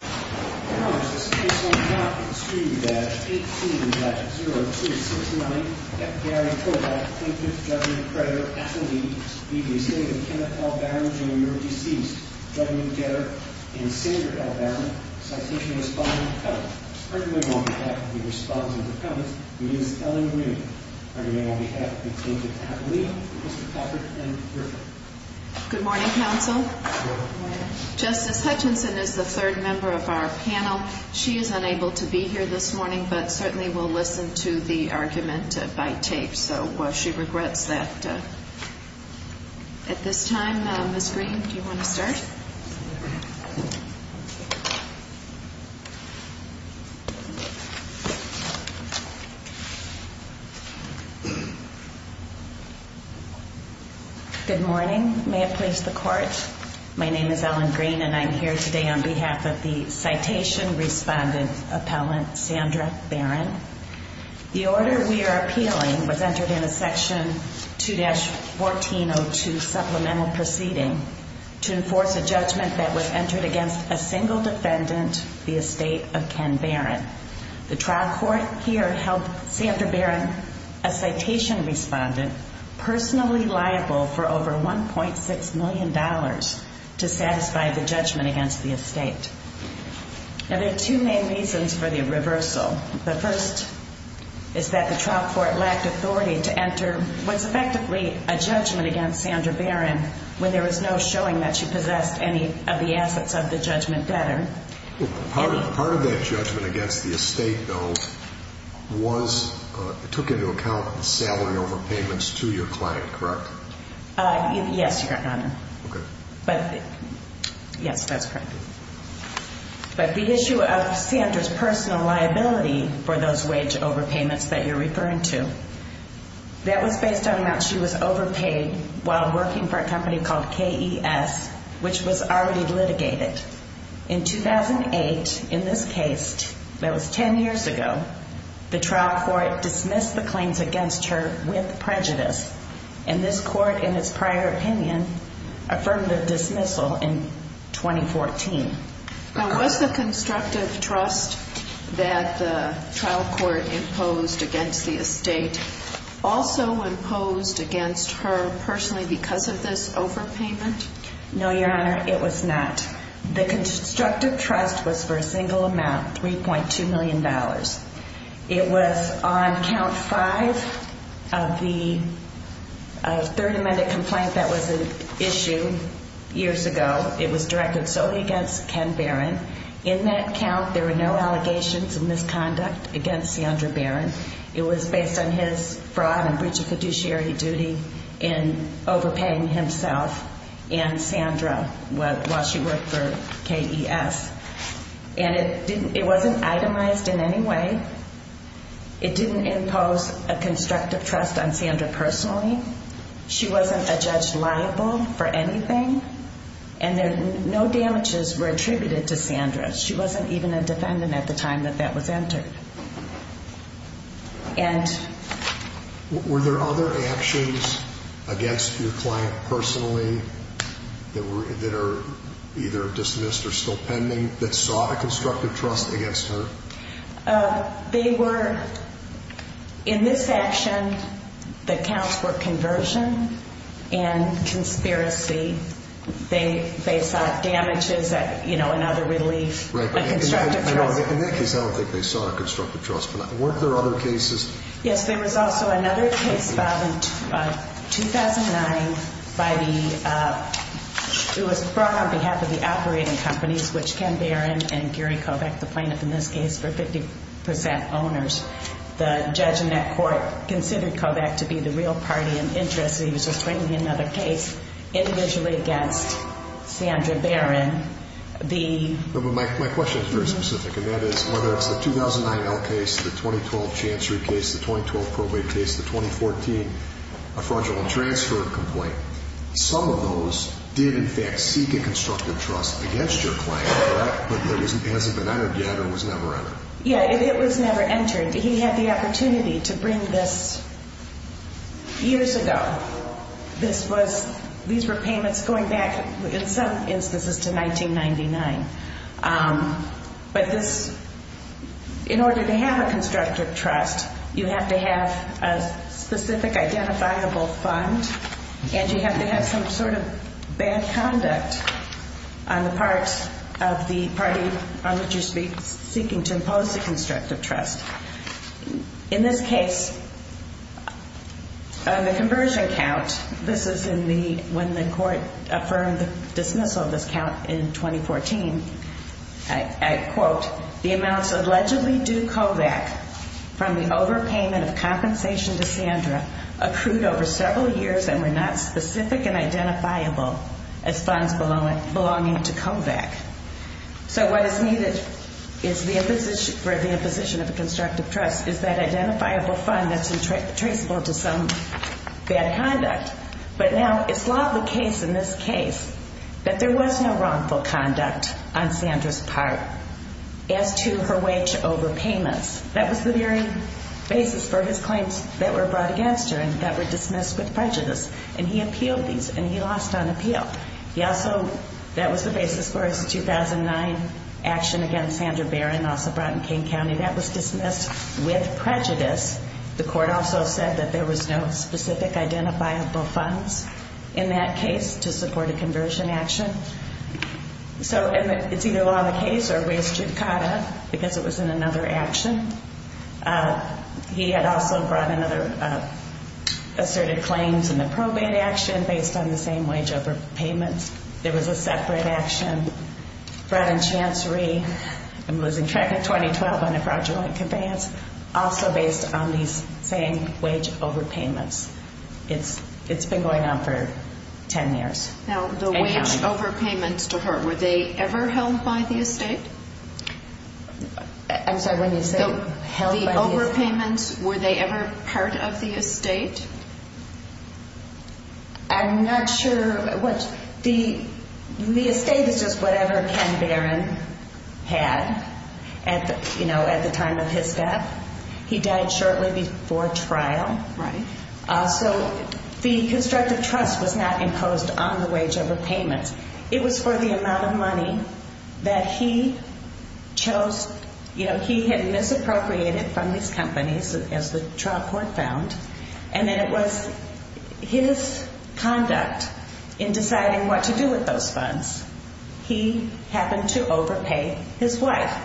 Good morning, this case will now be distributed at 18-0269 F. Gary Kovac, plaintiff, judge, creditor, affidavit, B.B. Sagan, Kenneth L. Barron, Jr., deceased, W. Getter, and Senator L. Barron. Citation is following the code. Urgently on behalf of the responsible defendants, Ms. Ellen Rueben. Urgently on behalf of the plaintiff's affidavit, Mr. Packard and Griffin. Good morning, counsel. Good morning. Justice Hutchinson is the third member of our panel. She is unable to be here this morning, but certainly will listen to the argument by tape, so she regrets that at this time. Ms. Green, do you want to start? Good morning, may it please the court. My name is Ellen Green and I'm here today on behalf of the citation respondent appellant, Sandra Barron. The order we are appealing was entered in a section 2-1402 supplemental proceeding to enforce a judgment that was entered against a single defendant, the estate of Ken Barron. The trial court here held Sandra Barron, a citation respondent, personally liable for over $1.6 million to satisfy the judgment against the estate. There are two main reasons for the reversal. The first is that the trial court lacked authority to enter what's effectively a judgment against Sandra Barron when there was no showing that she possessed any of the assets of the judgment debtor. Part of that judgment against the estate, though, took into account the salary overpayments to your client, correct? Yes, Your Honor. Okay. Yes, that's correct. But the issue of Sandra's personal liability for those wage overpayments that you're referring to, that was based on the amount she was overpaid while working for a company called KES, which was already litigated. In 2008, in this case, that was 10 years ago, the trial court dismissed the claims against her with prejudice, and this court, in its prior opinion, affirmed the dismissal in 2014. Now, was the constructive trust that the trial court imposed against the estate also imposed against her personally because of this overpayment? No, Your Honor, it was not. The constructive trust was for a single amount, $3.2 million. It was on count five of the third amended complaint that was issued years ago. It was directed solely against Ken Barron. In that count, there were no allegations of misconduct against Sandra Barron. It was based on his fraud and breach of fiduciary duty in overpaying himself and Sandra while she worked for KES. And it wasn't itemized in any way. It didn't impose a constructive trust on Sandra personally. She wasn't a judge liable for anything. And no damages were attributed to Sandra. She wasn't even a defendant at the time that that was entered. Were there other actions against your client personally that are either dismissed or still pending that sought a constructive trust against her? In this action, the counts were conversion and conspiracy. They sought damages and other relief. In that case, I don't think they sought a constructive trust. But weren't there other cases? Yes, there was also another case filed in 2009. It was brought on behalf of the operating companies, which Ken Barron and Gary Kovach, the plaintiff in this case, were 50% owners. The judge in that court considered Kovach to be the real party in interest. He was just bringing in another case individually against Sandra Barron. My question is very specific. And that is whether it's the 2009 L case, the 2012 Chancery case, the 2012 probate case, the 2014 fraudulent transfer complaint. Some of those did, in fact, seek a constructive trust against your client, correct? But it hasn't been entered yet or was never entered? Yeah, it was never entered. He had the opportunity to bring this years ago. These were payments going back, in some instances, to 1999. But in order to have a constructive trust, you have to have a specific identifiable fund. And you have to have some sort of bad conduct on the part of the party on which you're seeking to impose a constructive trust. In this case, on the conversion count, this is when the court affirmed the dismissal of this count in 2014, I quote, the amounts allegedly due Kovach from the overpayment of compensation to Sandra accrued over several years and were not specific and identifiable as funds belonging to Kovach. So what is needed for the imposition of a constructive trust is that identifiable fund that's traceable to some bad conduct. But now it's not the case in this case that there was no wrongful conduct on Sandra's part as to her way to overpayments. That was the very basis for his claims that were brought against her and that were dismissed with prejudice. And he appealed these, and he lost on appeal. He also, that was the basis for his 2009 action against Sandra Barron, also brought in King County. That was dismissed with prejudice. The court also said that there was no specific identifiable funds in that case to support a conversion action. So it's either law of the case or res judicata because it was in another action. He had also brought in other asserted claims in the probate action based on the same wage overpayments. There was a separate action brought in Chancery. I'm losing track of 2012 on a fraudulent conveyance, also based on these same wage overpayments. It's been going on for 10 years. Now, the wage overpayments to her, were they ever held by the estate? I'm sorry, when you say held by the estate? The overpayments, were they ever part of the estate? I'm not sure. The estate is just whatever Ken Barron had at the time of his death. He died shortly before trial. Right. So the constructive trust was not imposed on the wage overpayments. It was for the amount of money that he chose. He had misappropriated from these companies, as the trial court found. And then it was his conduct in deciding what to do with those funds. He happened to overpay his wife.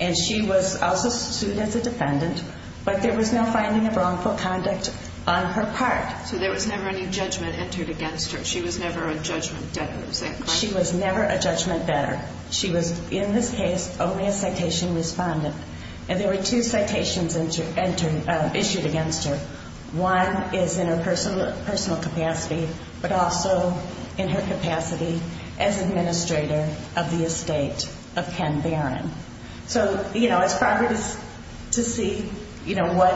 And she was also sued as a defendant. But there was no finding of wrongful conduct on her part. So there was never any judgment entered against her. She was never a judgment debtor, is that correct? She was never a judgment debtor. She was, in this case, only a citation respondent. And there were two citations issued against her. One is in her personal capacity, but also in her capacity as administrator of the estate of Ken Barron. So, you know, it's primary to see, you know, what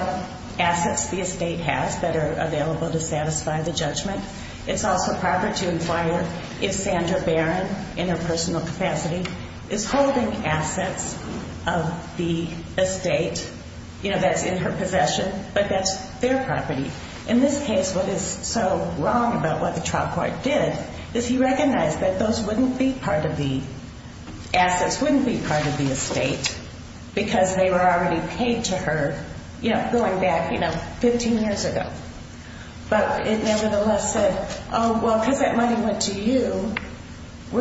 assets the estate has that are available to satisfy the judgment. It's also proper to inquire if Sandra Barron, in her personal capacity, is holding assets of the estate, you know, that's in her possession, but that's their property. In this case, what is so wrong about what the trial court did is he recognized that those wouldn't be part of the assets, wouldn't be part of the estate because they were already paid to her, you know, going back, you know, 15 years ago. But it nevertheless said, oh, well, because that money went to you, I'm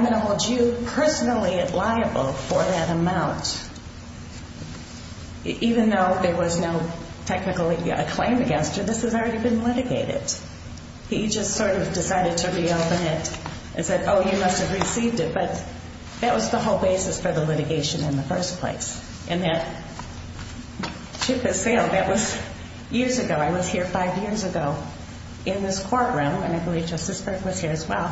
going to hold you personally liable for that amount. Even though there was no technical claim against her, this has already been litigated. He just sort of decided to reopen it and said, oh, you must have received it. But that was the whole basis for the litigation in the first place. And that ship has sailed. That was years ago. I was here five years ago in this courtroom, and I believe Justice Burke was here as well,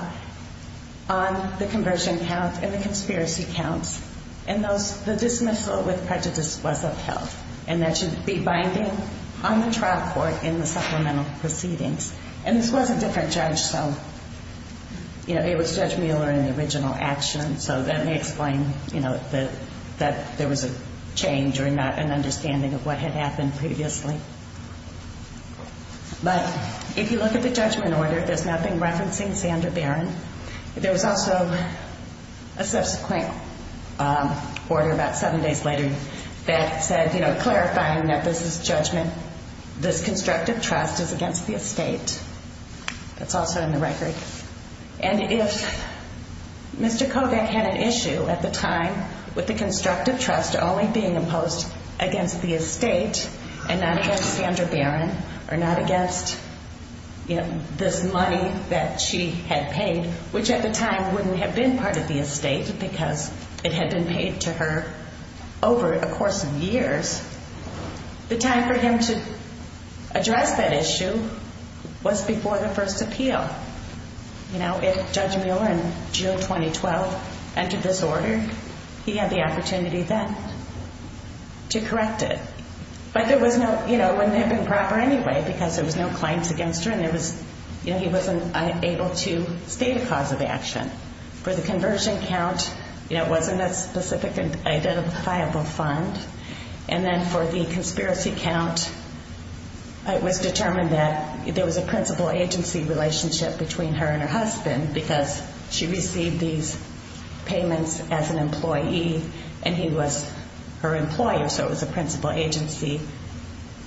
on the conversion count and the conspiracy counts. And the dismissal with prejudice was upheld, and that should be binding on the trial court in the supplemental proceedings. And this was a different judge, so, you know, it was Judge Mueller in the original action, so that may explain, you know, that there was a change or not an understanding of what had happened previously. But if you look at the judgment order, there's nothing referencing Sandra Barron. There was also a subsequent order about seven days later that said, you know, clarifying that this is judgment. This constructive trust is against the estate. That's also in the record. And if Mr. Kovach had an issue at the time with the constructive trust only being imposed against the estate and not against Sandra Barron or not against, you know, this money that she had paid, which at the time wouldn't have been part of the estate because it had been paid to her over a course of years, the time for him to address that issue was before the first appeal. So, you know, if Judge Mueller in June 2012 entered this order, he had the opportunity then to correct it. But there was no, you know, it wouldn't have been proper anyway because there was no claims against her and there was, you know, he wasn't able to state a cause of action. For the conversion count, you know, it wasn't a specific identifiable fund. And then for the conspiracy count, it was determined that there was a principal agency relationship between her and her husband because she received these payments as an employee and he was her employer, so it was a principal agency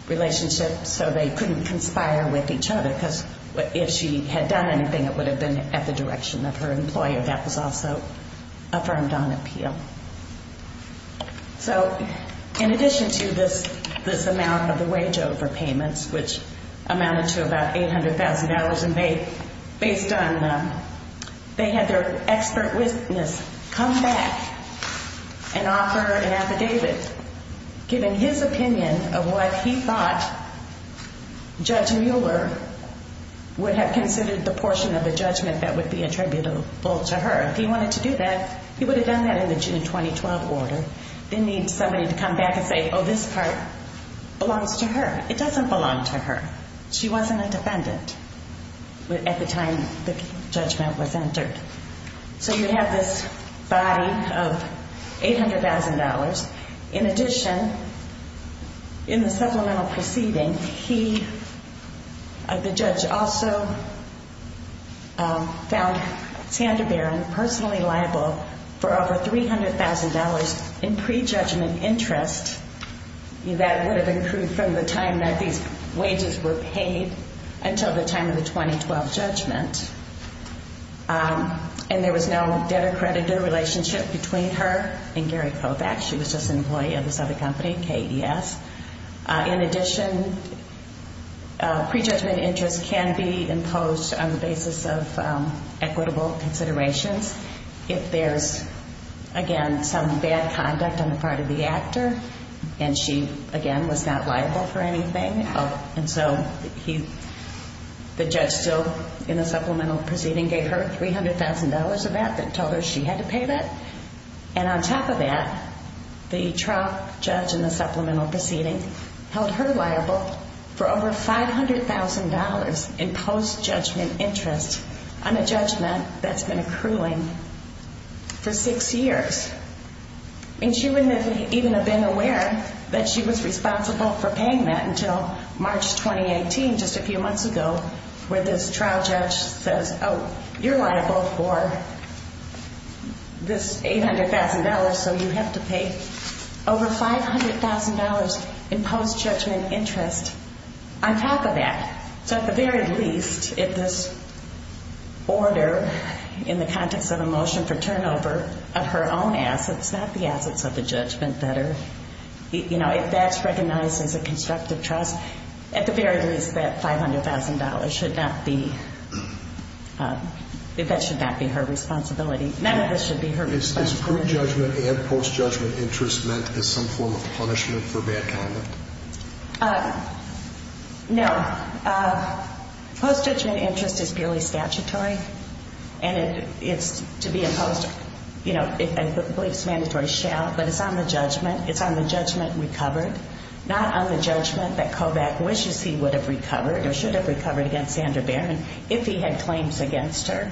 relationship so they couldn't conspire with each other because if she had done anything, it would have been at the direction of her employer. That was also affirmed on appeal. So in addition to this amount of the wage overpayments, which amounted to about $800,000, and based on, they had their expert witness come back and offer an affidavit giving his opinion of what he thought Judge Mueller would have considered the portion of the judgment that would be attributable to her. If he wanted to do that, he would have done that in the June 2012 order, didn't need somebody to come back and say, oh, this part belongs to her. It doesn't belong to her. She wasn't a defendant at the time the judgment was entered. So you have this body of $800,000. In addition, in the supplemental proceeding, the judge also found Sandra Barron personally liable for over $300,000 in prejudgment interest. That would have included from the time that these wages were paid until the time of the 2012 judgment. And there was no debtor-creditor relationship between her and Gary Kovach. She was just an employee of this other company, KES. In addition, prejudgment interest can be imposed on the basis of equitable considerations if there's, again, some bad conduct on the part of the actor and she, again, was not liable for anything. And so the judge still, in the supplemental proceeding, gave her $300,000 of that and told her she had to pay that. And on top of that, the trial judge in the supplemental proceeding held her liable for over $500,000 in post-judgment interest on a judgment that's been accruing for six years. And she wouldn't even have been aware that she was responsible for paying that until March 2018, just a few months ago, where this trial judge says, Oh, you're liable for this $800,000, so you have to pay over $500,000 in post-judgment interest on top of that. So at the very least, if this order, in the context of a motion for turnover of her own assets, not the assets of the judgment debtor, if that's recognized as a constructive trust, at the very least, that $500,000 should not be her responsibility. None of this should be her responsibility. Is pre-judgment and post-judgment interest meant as some form of punishment for bad conduct? No. Post-judgment interest is purely statutory, and it's to be imposed, I believe it's mandatory, but it's on the judgment. It's on the judgment recovered, not on the judgment that Kovach wishes he would have recovered or should have recovered against Sandra Barron if he had claims against her.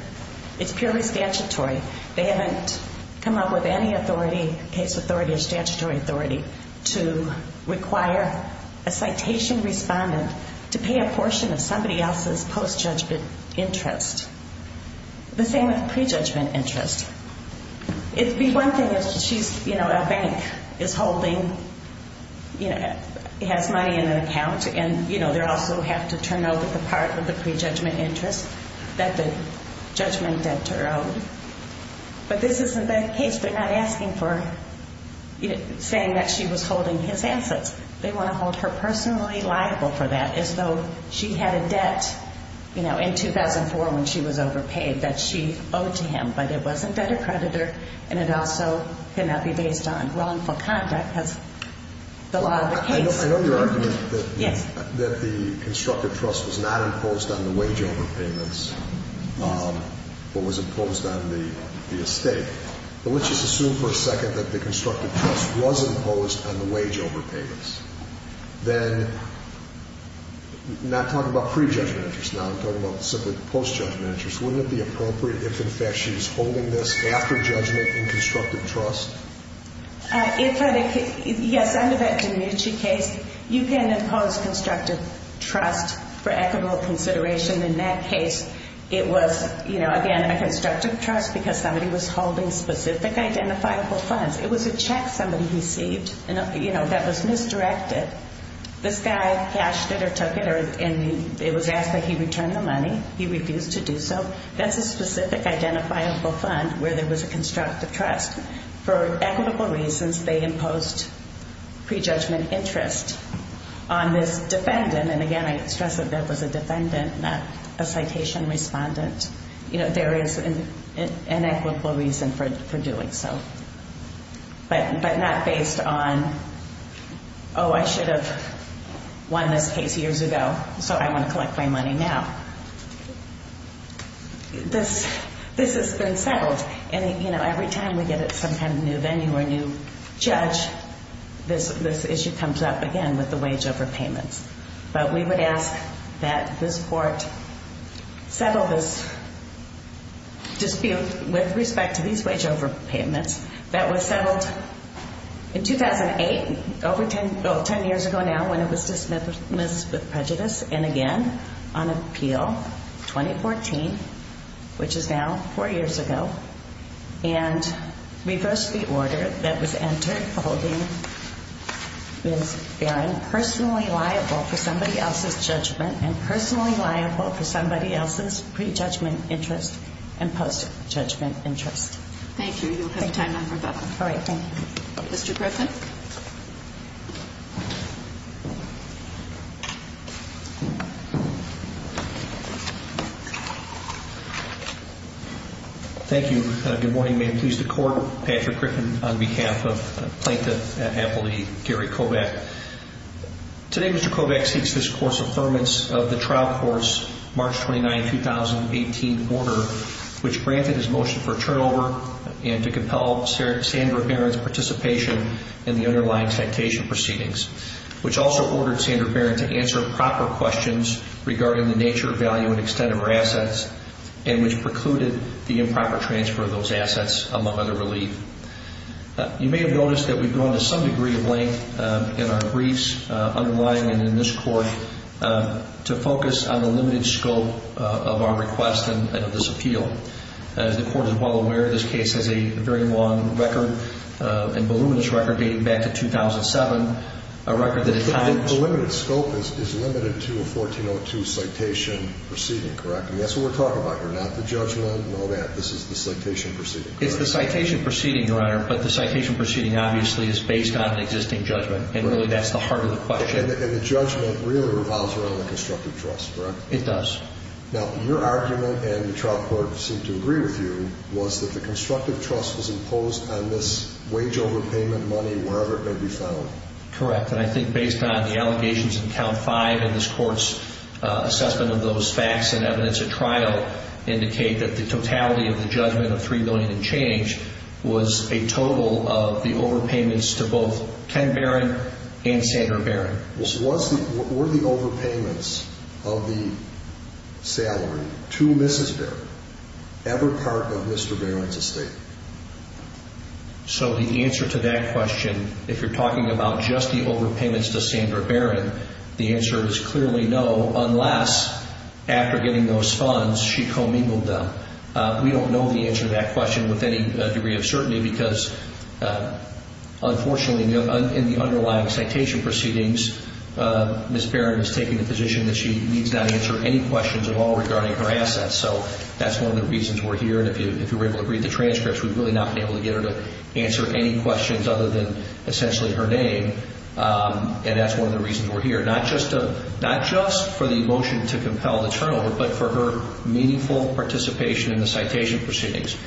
It's purely statutory. They haven't come up with any authority, case authority or statutory authority, to require a citation respondent to pay a portion of somebody else's post-judgment interest. The same with pre-judgment interest. It would be one thing if she's, you know, a bank, is holding, you know, has money in an account, and, you know, they also have to turn over the part of the pre-judgment interest that the judgment debtor owed. But this isn't the case. They're not asking for, you know, saying that she was holding his assets. They want to hold her personally liable for that, as though she had a debt, you know, in 2004 when she was overpaid that she owed to him, but it was a debtor-creditor, and it also cannot be based on wrongful conduct, as the law of the case. I know your argument that the constructive trust was not imposed on the wage overpayments but was imposed on the estate. But let's just assume for a second that the constructive trust was imposed on the wage overpayments. Then, not talking about pre-judgment interest now, I'm talking about simply the post-judgment interest, wouldn't it be appropriate if, in fact, she was holding this after judgment in constructive trust? Yes, under that DiMinci case, you can impose constructive trust for equitable consideration. In that case, it was, you know, again, a constructive trust because somebody was holding specific identifiable funds. It was a check somebody received, you know, that was misdirected. This guy cashed it or took it, and it was asked that he return the money. He refused to do so. That's a specific identifiable fund where there was a constructive trust. For equitable reasons, they imposed pre-judgment interest on this defendant. And again, I stress that that was a defendant, not a citation respondent. You know, there is an equitable reason for doing so. But not based on, oh, I should have won this case years ago, so I want to collect my money now. This has been settled. And, you know, every time we get some kind of new venue or new judge, this issue comes up again with the wage overpayments. But we would ask that this court settle this dispute with respect to these wage overpayments that was settled in 2008, over 10 years ago now when it was dismissed with prejudice, and again on appeal 2014, which is now four years ago, and reverse the order that was entered holding Ms. Barron personally liable for somebody else's judgment and personally liable for somebody else's pre-judgment interest and post-judgment interest. Thank you. You'll have time after that. All right. Thank you. Mr. Griffin. Thank you. Good morning. May it please the Court. Patrick Griffin on behalf of Plaintiff at Appleby, Gary Kovach. Today Mr. Kovach seeks this court's affirmance of the trial course, March 29, 2018 order, which granted his motion for turnover and to compel Sandra Barron's participation in the underlying citation proceedings, which also ordered Sandra Barron to answer proper questions regarding the nature, value, and extent of her assets and which precluded the improper transfer of those assets, among other relief. You may have noticed that we've gone to some degree of length in our briefs underlying and in this court to focus on the limited scope of our request and of this appeal. As the Court is well aware, this case has a very long record and voluminous record dating back to 2007, a record that at times... The limited scope is limited to a 1402 citation proceeding, correct? I mean, that's what we're talking about here, not the judgment and all that. This is the citation proceeding, correct? It's the citation proceeding, Your Honor, but the citation proceeding obviously is based on an existing judgment and really that's the heart of the question. And the judgment really revolves around the constructive trust, correct? It does. Now, your argument and the trial court seem to agree with you was that the constructive trust was imposed on this wage overpayment money wherever it may be found. Correct, and I think based on the allegations in Count 5 and this Court's assessment of those facts and evidence at trial indicate that the totality of the judgment of $3 million and change was a total of the overpayments to both Ken Barron and Sandra Barron. Were the overpayments of the salary to Mrs. Barron ever part of Mr. Barron's estate? So the answer to that question, if you're talking about just the overpayments to Sandra Barron, the answer is clearly no unless, after getting those funds, she commingled them. We don't know the answer to that question with any degree of certainty because, unfortunately, in the underlying citation proceedings, Mrs. Barron has taken the position that she needs not answer any questions at all regarding her assets. So that's one of the reasons we're here. And if you were able to read the transcripts, we would really not be able to get her to answer any questions other than essentially her name. And that's one of the reasons we're here, not just for the emotion to compel the turnover, but for her meaningful participation in the citation proceedings.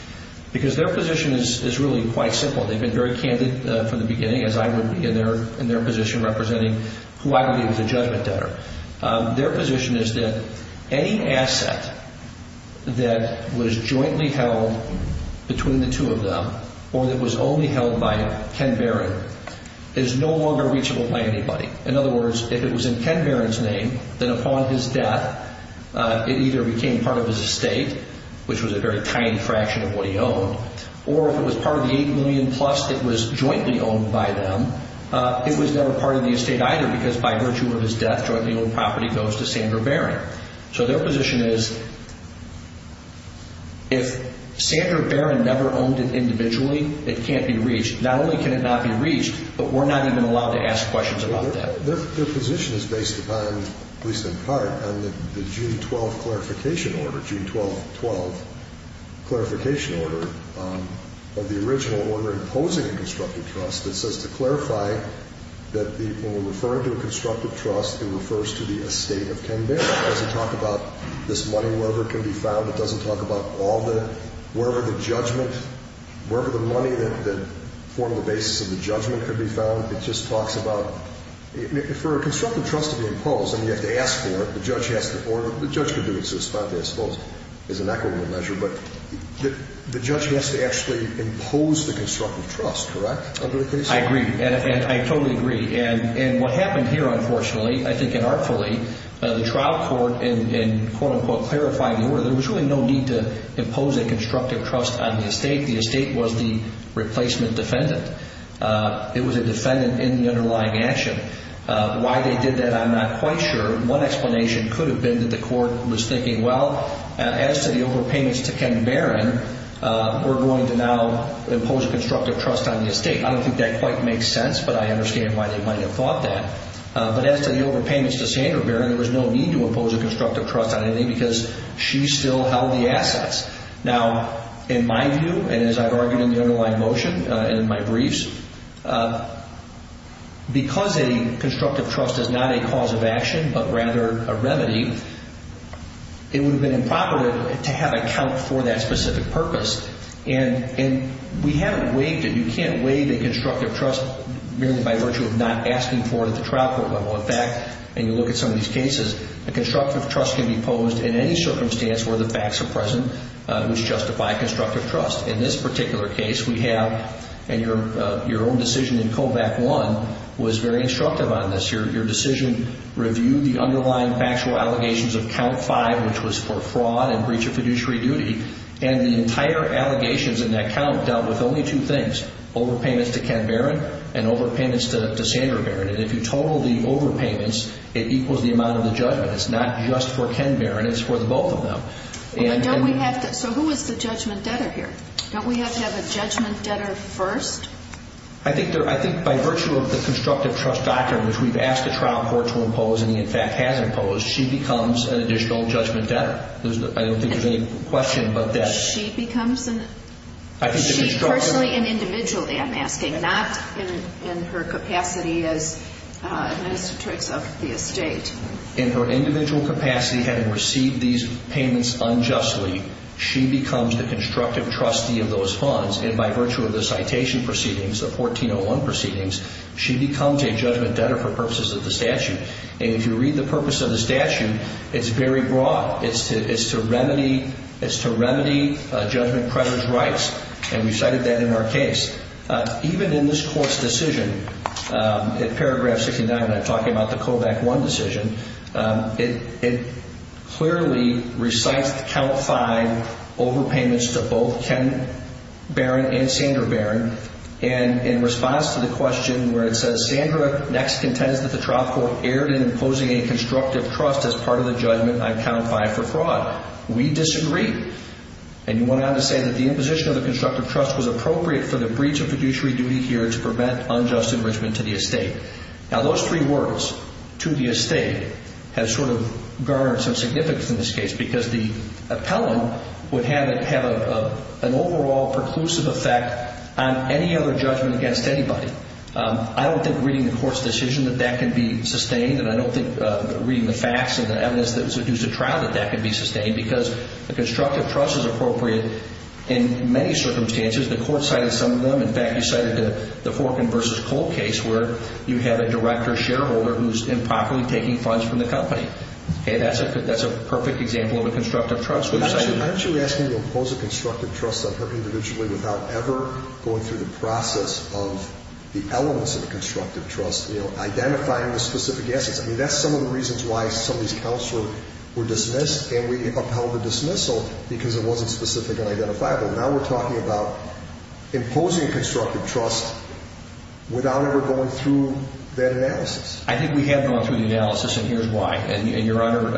Because their position is really quite simple. They've been very candid from the beginning, as I would be in their position representing who I would be as a judgment debtor. Their position is that any asset that was jointly held between the two of them or that was only held by Ken Barron is no longer reachable by anybody. In other words, if it was in Ken Barron's name, then upon his death it either became part of his estate, which was a very tiny fraction of what he owned, or if it was part of the $8 million-plus that was jointly owned by them, it was never part of the estate either because by virtue of his death, jointly owned property goes to Sandra Barron. So their position is if Sandra Barron never owned it individually, it can't be reached. Not only can it not be reached, but we're not even allowed to ask questions about that. Their position is based upon, at least in part, on the June 12th clarification order, June 12th, 12th, clarification order of the original order imposing a constructive trust that says to clarify that when we refer to a constructive trust, it refers to the estate of Ken Barron. It doesn't talk about this money, wherever it can be found. It doesn't talk about all the, wherever the judgment, wherever the money that formed the basis of the judgment could be found. It just talks about for a constructive trust to be imposed, and you have to ask for it, the judge has to, or the judge could do it satisfactorily, I suppose, as an equitable measure, but the judge has to actually impose the constructive trust, correct? I agree, and I totally agree. And what happened here, unfortunately, I think inartfully, the trial court in quote-unquote clarifying the order, there was really no need to impose a constructive trust on the estate. The estate was the replacement defendant. It was a defendant in the underlying action. Why they did that, I'm not quite sure. One explanation could have been that the court was thinking, well, as to the overpayments to Ken Barron, we're going to now impose a constructive trust on the estate. I don't think that quite makes sense, but I understand why they might have thought that. But as to the overpayments to Sandra Barron, there was no need to impose a constructive trust on anything because she still held the assets. Now, in my view, and as I've argued in the underlying motion and in my briefs, because a constructive trust is not a cause of action but rather a remedy, it would have been improper to have a count for that specific purpose. And we haven't waived it. You can't waive a constructive trust merely by virtue of not asking for it at the trial court level. In fact, and you look at some of these cases, a constructive trust can be imposed in any circumstance where the facts are present which justify a constructive trust. In this particular case, we have, and your own decision in Code Act I was very instructive on this. Your decision reviewed the underlying factual allegations of Count 5, which was for fraud and breach of fiduciary duty, and the entire allegations in that count dealt with only two things, overpayments to Ken Barron and overpayments to Sandra Barron. And if you total the overpayments, it equals the amount of the judgment. It's not just for Ken Barron, it's for the both of them. So who is the judgment debtor here? Don't we have to have a judgment debtor first? I think by virtue of the constructive trust doctrine, which we've asked the trial court to impose and in fact has imposed, she becomes an additional judgment debtor. I don't think there's any question about that. She becomes an individual, I'm asking, not in her capacity as administrator of the estate. In her individual capacity, having received these payments unjustly, she becomes the constructive trustee of those funds, and by virtue of the citation proceedings, the 1401 proceedings, she becomes a judgment debtor for purposes of the statute. And if you read the purpose of the statute, it's very broad. It's to remedy judgment creditors' rights, and we cited that in our case. Even in this court's decision, in paragraph 69, when I'm talking about the COVAC 1 decision, it clearly recites the Count 5 overpayments to both Ken Barron and Sandra Barron, and in response to the question where it says, Sandra next contends that the trial court erred in imposing a constructive trust as part of the judgment on Count 5 for fraud. We disagree. And you went on to say that the imposition of the constructive trust was appropriate for the breach of fiduciary duty here to prevent unjust enrichment to the estate. Now, those three words, to the estate, have sort of garnered some significance in this case because the appellant would have an overall preclusive effect on any other judgment against anybody. I don't think, reading the court's decision, that that can be sustained, and I don't think, reading the facts and the evidence that was used at trial, that that can be sustained because the constructive trust is appropriate in many circumstances. The court cited some of them. In fact, you cited the Forkin v. Cole case where you have a director shareholder who's improperly taking funds from the company. That's a perfect example of a constructive trust. Aren't you asking to impose a constructive trust on her individually without ever going through the process of the elements of a constructive trust, identifying the specific assets? I mean, that's some of the reasons why some of these counts were dismissed, and we upheld the dismissal because it wasn't specific and identifiable. Now we're talking about imposing constructive trust without ever going through that analysis. I think we have gone through the analysis, and here's why. And Your Honor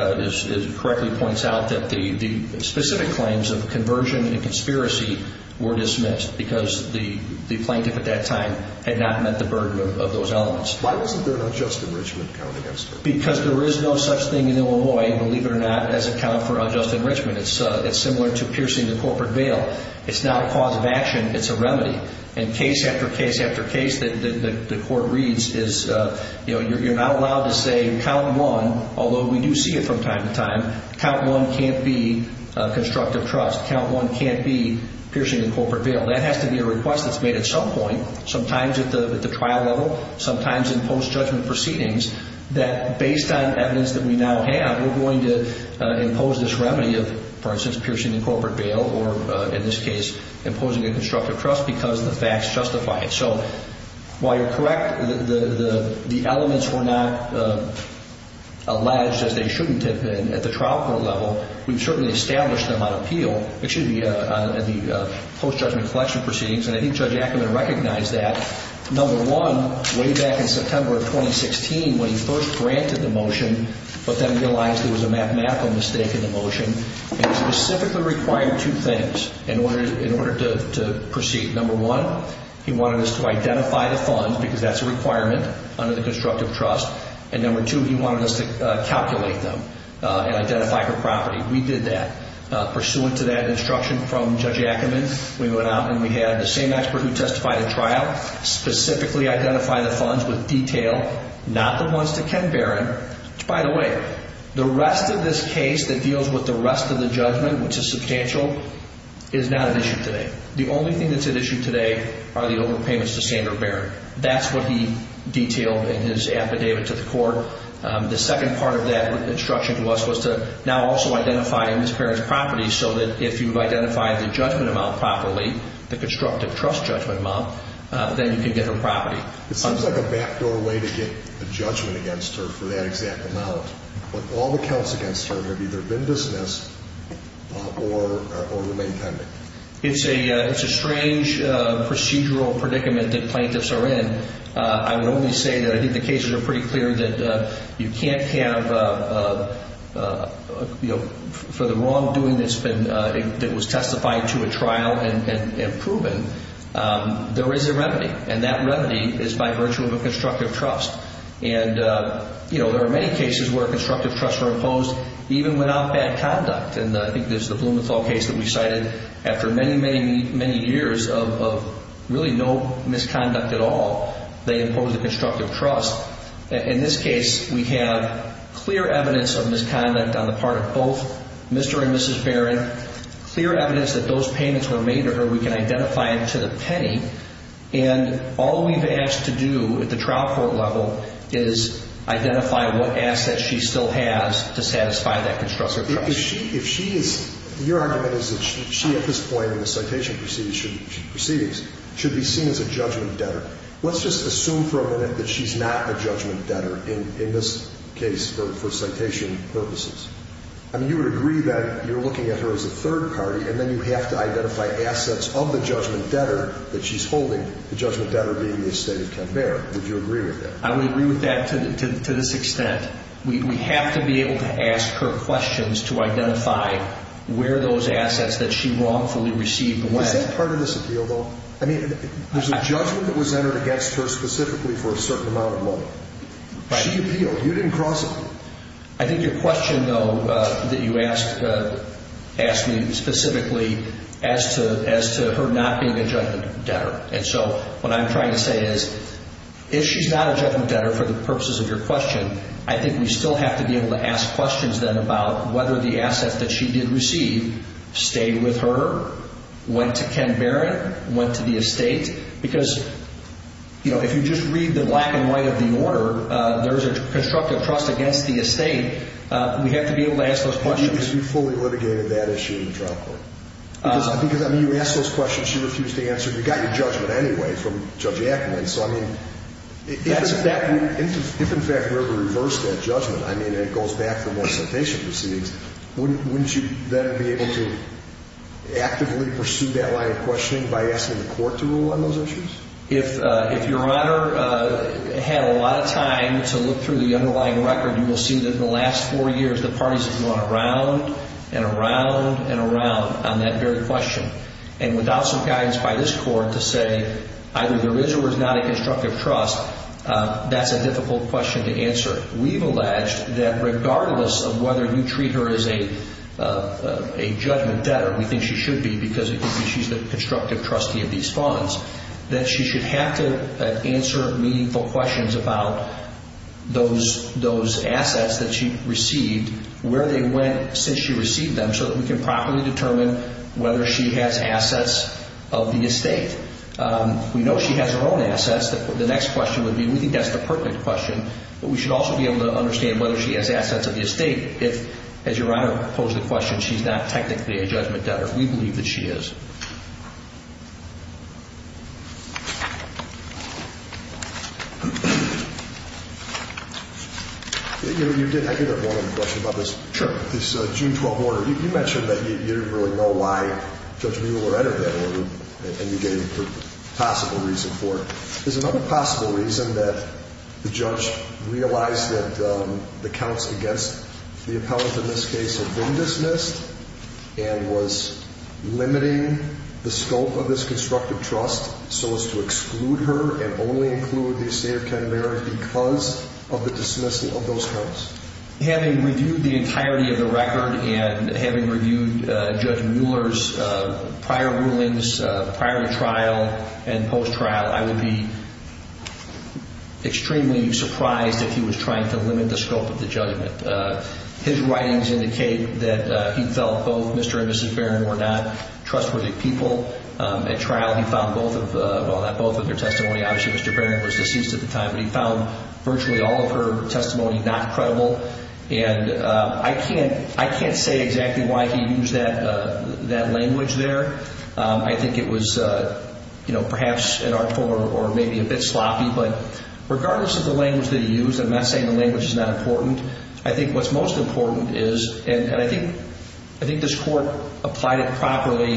correctly points out that the specific claims of conversion and conspiracy were dismissed because the plaintiff at that time had not met the burden of those elements. Why wasn't there an unjust enrichment count against her? Because there is no such thing in Illinois, believe it or not, as a count for unjust enrichment. It's similar to piercing the corporate veil. It's not a cause of action. It's a remedy. And case after case after case that the court reads is you're not allowed to say, Count 1, although we do see it from time to time, Count 1 can't be constructive trust. Count 1 can't be piercing the corporate veil. That has to be a request that's made at some point, sometimes at the trial level, sometimes in post-judgment proceedings, that based on evidence that we now have, we're going to impose this remedy of, for instance, piercing the corporate veil or, in this case, imposing a constructive trust because the facts justify it. So while you're correct, the elements were not alleged, as they shouldn't have been at the trial court level, we've certainly established them on appeal. It should be in the post-judgment collection proceedings, and I think Judge Ackerman recognized that. Number one, way back in September of 2016, when he first granted the motion but then realized there was a mathematical mistake in the motion, he specifically required two things in order to proceed. Number one, he wanted us to identify the funds because that's a requirement under the constructive trust, and number two, he wanted us to calculate them and identify her property. We did that. Pursuant to that instruction from Judge Ackerman, we went out and we had the same expert who testified at trial specifically identify the funds with detail, not the ones to Ken Barron. By the way, the rest of this case that deals with the rest of the judgment, which is substantial, is not at issue today. The only thing that's at issue today are the overpayments to Sandra Barron. That's what he detailed in his affidavit to the court. The second part of that instruction to us was to now also identify Ms. Barron's judgment amount properly, the constructive trust judgment amount, then you can get her property. It seems like a backdoor way to get a judgment against her for that exact amount, but all the counts against her have either been dismissed or remained pending. It's a strange procedural predicament that plaintiffs are in. I would only say that I think the cases are pretty clear that you can't have, for the wrongdoing that was testified to at trial and proven, there is a remedy, and that remedy is by virtue of a constructive trust. There are many cases where constructive trust were imposed even without bad conduct. I think there's the Blumenthal case that we cited. After many, many, many years of really no misconduct at all, they imposed a constructive trust. In this case, we have clear evidence of misconduct on the part of both Mr. and Mrs. Barron, clear evidence that those payments were made to her. We can identify them to the penny, and all we've asked to do at the trial court level is identify what assets she still has to satisfy that constructive trust. If she is, your argument is that she at this point in the citation proceedings should be seen as a judgment debtor. Let's just assume for a minute that she's not a judgment debtor in this case for citation purposes. I mean, you would agree that you're looking at her as a third party, and then you have to identify assets of the judgment debtor that she's holding, the judgment debtor being the estate of Ken Barrett. Would you agree with that? I would agree with that to this extent. We have to be able to ask her questions to identify where those assets that she wrongfully received went. Is that part of this appeal, though? I mean, there's a judgment that was entered against her specifically for a certain amount of money. She appealed. You didn't cross it. I think your question, though, that you asked me specifically as to her not being a judgment debtor. And so what I'm trying to say is if she's not a judgment debtor for the purposes of your question, I think we still have to be able to ask questions then about whether the assets that she did receive stayed with her, went to Ken Barrett, went to the estate. Because, you know, if you just read the black and white of the order, there's a constructive trust against the estate. We have to be able to ask those questions. But you fully litigated that issue in the trial court. Because, I mean, you asked those questions. She refused to answer. You got your judgment anyway from Judge Ackerman. So, I mean, if in fact we were to reverse that judgment, I mean, and it goes back to what the citation proceeds, wouldn't you then be able to actively pursue that line of questioning by asking the court to rule on those issues? If your Honor had a lot of time to look through the underlying record, you will see that in the last four years the parties have gone around and around and around on that very question. And without some guidance by this court to say either there is or is not a constructive trust, that's a difficult question to answer. We've alleged that regardless of whether you treat her as a judgment debtor, we think she should be because she's the constructive trustee of these funds, that she should have to answer meaningful questions about those assets that she received, where they went since she received them, so that we can properly determine whether she has assets of the estate. We know she has her own assets. The next question would be, we think that's the perfect question, but we should also be able to understand whether she has assets of the estate if, as your Honor posed the question, she's not technically a judgment debtor. We believe that she is. I do have one other question about this June 12 order. You mentioned that you didn't really know why Judge Mueller entered that order and you gave a possible reason for it. There's another possible reason that the judge realized that the counts against the appellant in this case had been dismissed and was limiting the scope of this constructive trust so as to exclude her and only include the estate of Ken Mary because of the dismissal of those counts. Having reviewed the entirety of the record and having reviewed Judge Mueller's prior rulings, prior to trial and post-trial, I would be extremely surprised if he was trying to limit the scope of the judgment. His writings indicate that he felt both Mr. and Mrs. Barron were not trustworthy people. At trial, he found both of their testimony. Obviously, Mr. Barron was deceased at the time, but he found virtually all of her testimony not credible. I can't say exactly why he used that language there. I think it was perhaps an artful or maybe a bit sloppy, but regardless of the language that he used, I'm not saying the language is not important. I think what's most important is, and I think this court applied it properly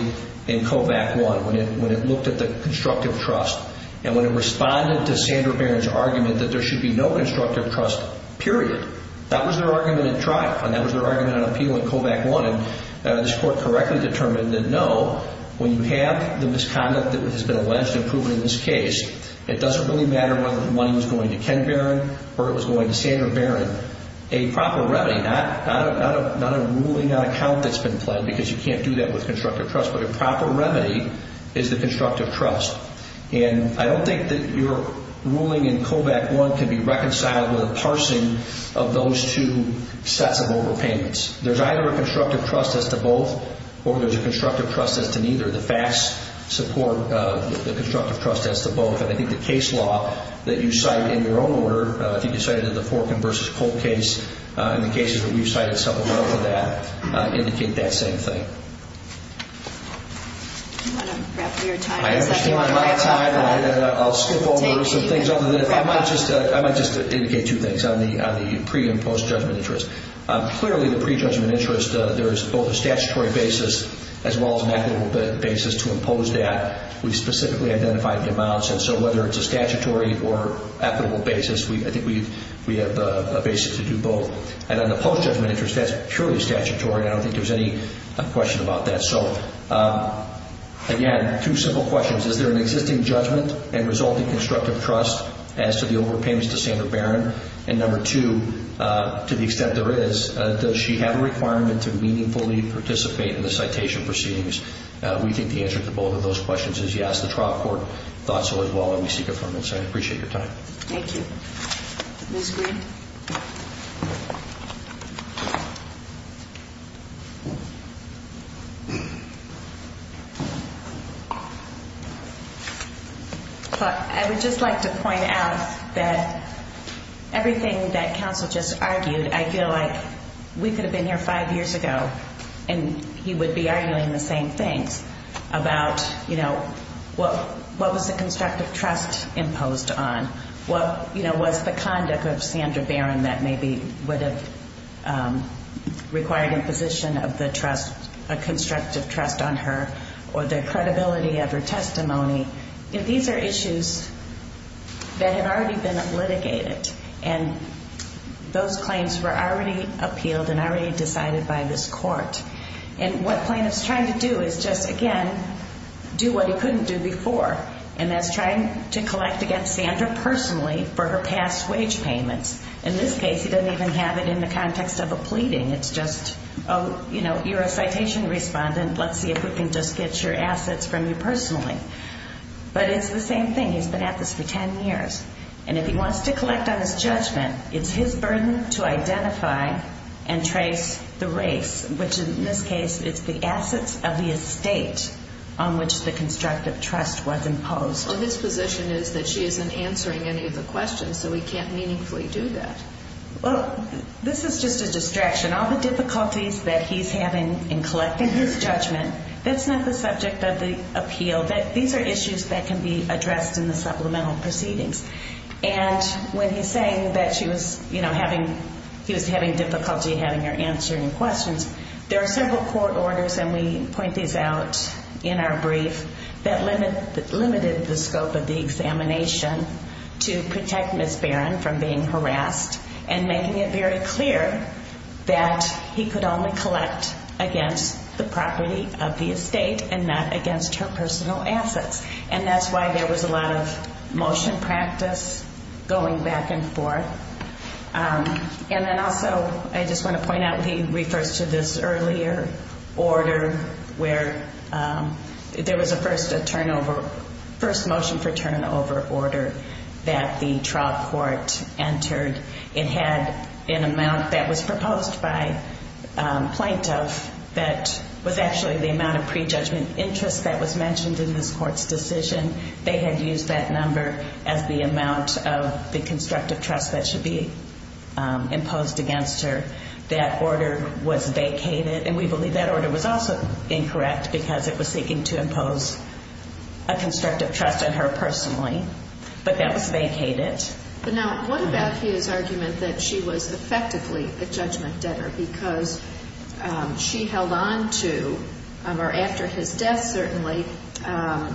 in COVAC 1 when it looked at the constructive trust and when it responded to Sandra Barron's argument that there should be no constructive trust, period. That was their argument at trial and that was their argument on appeal in COVAC 1. This court correctly determined that no, when you have the misconduct that has been alleged and proven in this case, it doesn't really matter whether the money was going to Ken Barron or it was going to Sandra Barron. A proper remedy, not a ruling on account that's been pledged because you can't do that with constructive trust, but a proper remedy is the constructive trust. And I don't think that your ruling in COVAC 1 can be reconciled with a parsing of those two sets of overpayments. There's either a constructive trust as to both or there's a constructive trust as to neither. The facts support the constructive trust as to both, and I think the case law that you cite in your own order, I think you cited in the Forkin v. Colt case, and the cases that we've cited several of that, indicate that same thing. Do you want to wrap up your time? I understand my time. I'll skip over some things. I might just indicate two things on the pre- and post-judgment interest. Clearly, the pre-judgment interest, there is both a statutory basis as well as an equitable basis to impose that. We specifically identified the amounts, and so whether it's a statutory or equitable basis, I think we have a basis to do both. And on the post-judgment interest, that's purely statutory, and I don't think there's any question about that. So, again, two simple questions. Is there an existing judgment and resulting constructive trust as to the overpayments to Sandra Barron? And number two, to the extent there is, does she have a requirement to meaningfully participate in the citation proceedings? We think the answer to both of those questions is yes. The trial court thought so as well, and we seek affirmation. I appreciate your time. Thank you. Ms. Green? Thank you. I would just like to point out that everything that counsel just argued, I feel like we could have been here five years ago and he would be arguing the same things about, you know, what was the constructive trust imposed on, what, you know, was the conduct of Sandra Barron that maybe would have required imposition of the trust, a constructive trust on her, or the credibility of her testimony. These are issues that have already been litigated, and those claims were already appealed and already decided by this court. And what plaintiff's trying to do is just, again, do what he couldn't do before, and that's trying to collect against Sandra personally for her past wage payments. In this case, he doesn't even have it in the context of a pleading. It's just, you know, you're a citation respondent. Let's see if we can just get your assets from you personally. But it's the same thing. He's been at this for 10 years, and if he wants to collect on his judgment, it's his burden to identify and trace the race, which in this case is the assets of the estate on which the constructive trust was imposed. Well, his position is that she isn't answering any of the questions, so we can't meaningfully do that. Well, this is just a distraction. All the difficulties that he's having in collecting his judgment, that's not the subject of the appeal. These are issues that can be addressed in the supplemental proceedings. And when he's saying that she was, you know, he was having difficulty having her answering questions, there are several court orders, and we point these out in our brief, that limited the scope of the examination to protect Ms. Barron from being harassed and making it very clear that he could only collect against the property of the estate and not against her personal assets. And that's why there was a lot of motion practice going back and forth. And then also, I just want to point out, he refers to this earlier order where there was a first turnover, first motion for turnover order that the trial court entered. It had an amount that was proposed by plaintiff that was actually the amount of prejudgment interest that was mentioned in this court's decision. They had used that number as the amount of the constructive trust that should be imposed against her. That order was vacated, and we believe that order was also incorrect because it was seeking to impose a constructive trust on her personally. But that was vacated. But now, what about his argument that she was effectively a judgment debtor because she held on to, or after his death certainly,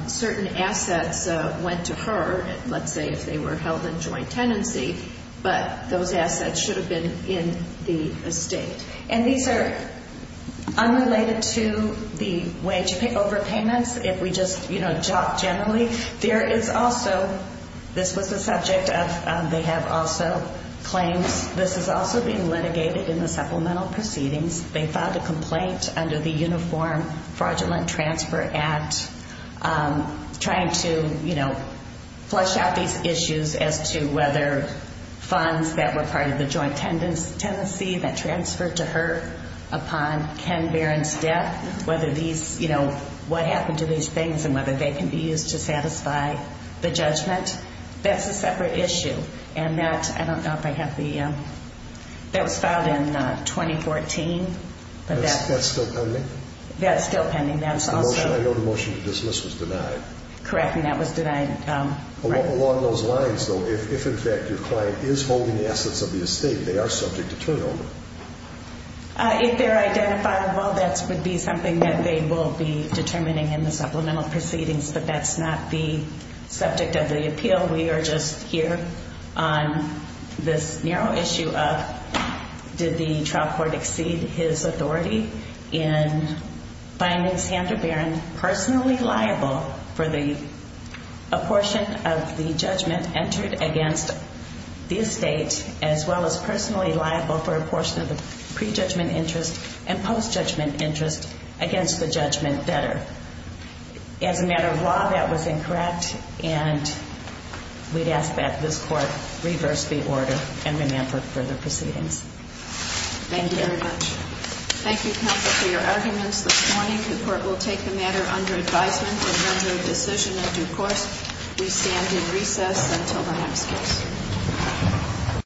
certain assets went to her, let's say if they were held in joint tenancy, but those assets should have been in the estate. And these are unrelated to the wage overpayments, if we just talk generally. There is also, this was the subject of, they have also claims, this is also being litigated in the supplemental proceedings. They filed a complaint under the Uniform Fraudulent Transfer Act trying to flush out these issues as to whether funds that were part of the joint tenancy that transferred to her upon Ken Barron's death, what happened to these things and whether they can be used to satisfy the judgment. That's a separate issue. And that, I don't know if I have the, that was filed in 2014. That's still pending? That's still pending. I know the motion to dismiss was denied. Correct, and that was denied. Along those lines though, if in fact your client is holding assets of the estate, they are subject to turnover. If they're identifiable, that would be something that they will be determining in the supplemental proceedings, but that's not the subject of the appeal. We are just here on this narrow issue of did the trial court exceed his authority in finding Sandra Barron personally liable for the apportion of the judgment entered against the estate as well as personally liable for a portion of the prejudgment interest and post-judgment interest against the judgment debtor. As a matter of law, that was incorrect, and we'd ask that this court reverse the order and remand for further proceedings. Thank you very much. Thank you, counsel, for your arguments this morning. The court will take the matter under advisement and render a decision in due course. We stand in recess until the next case.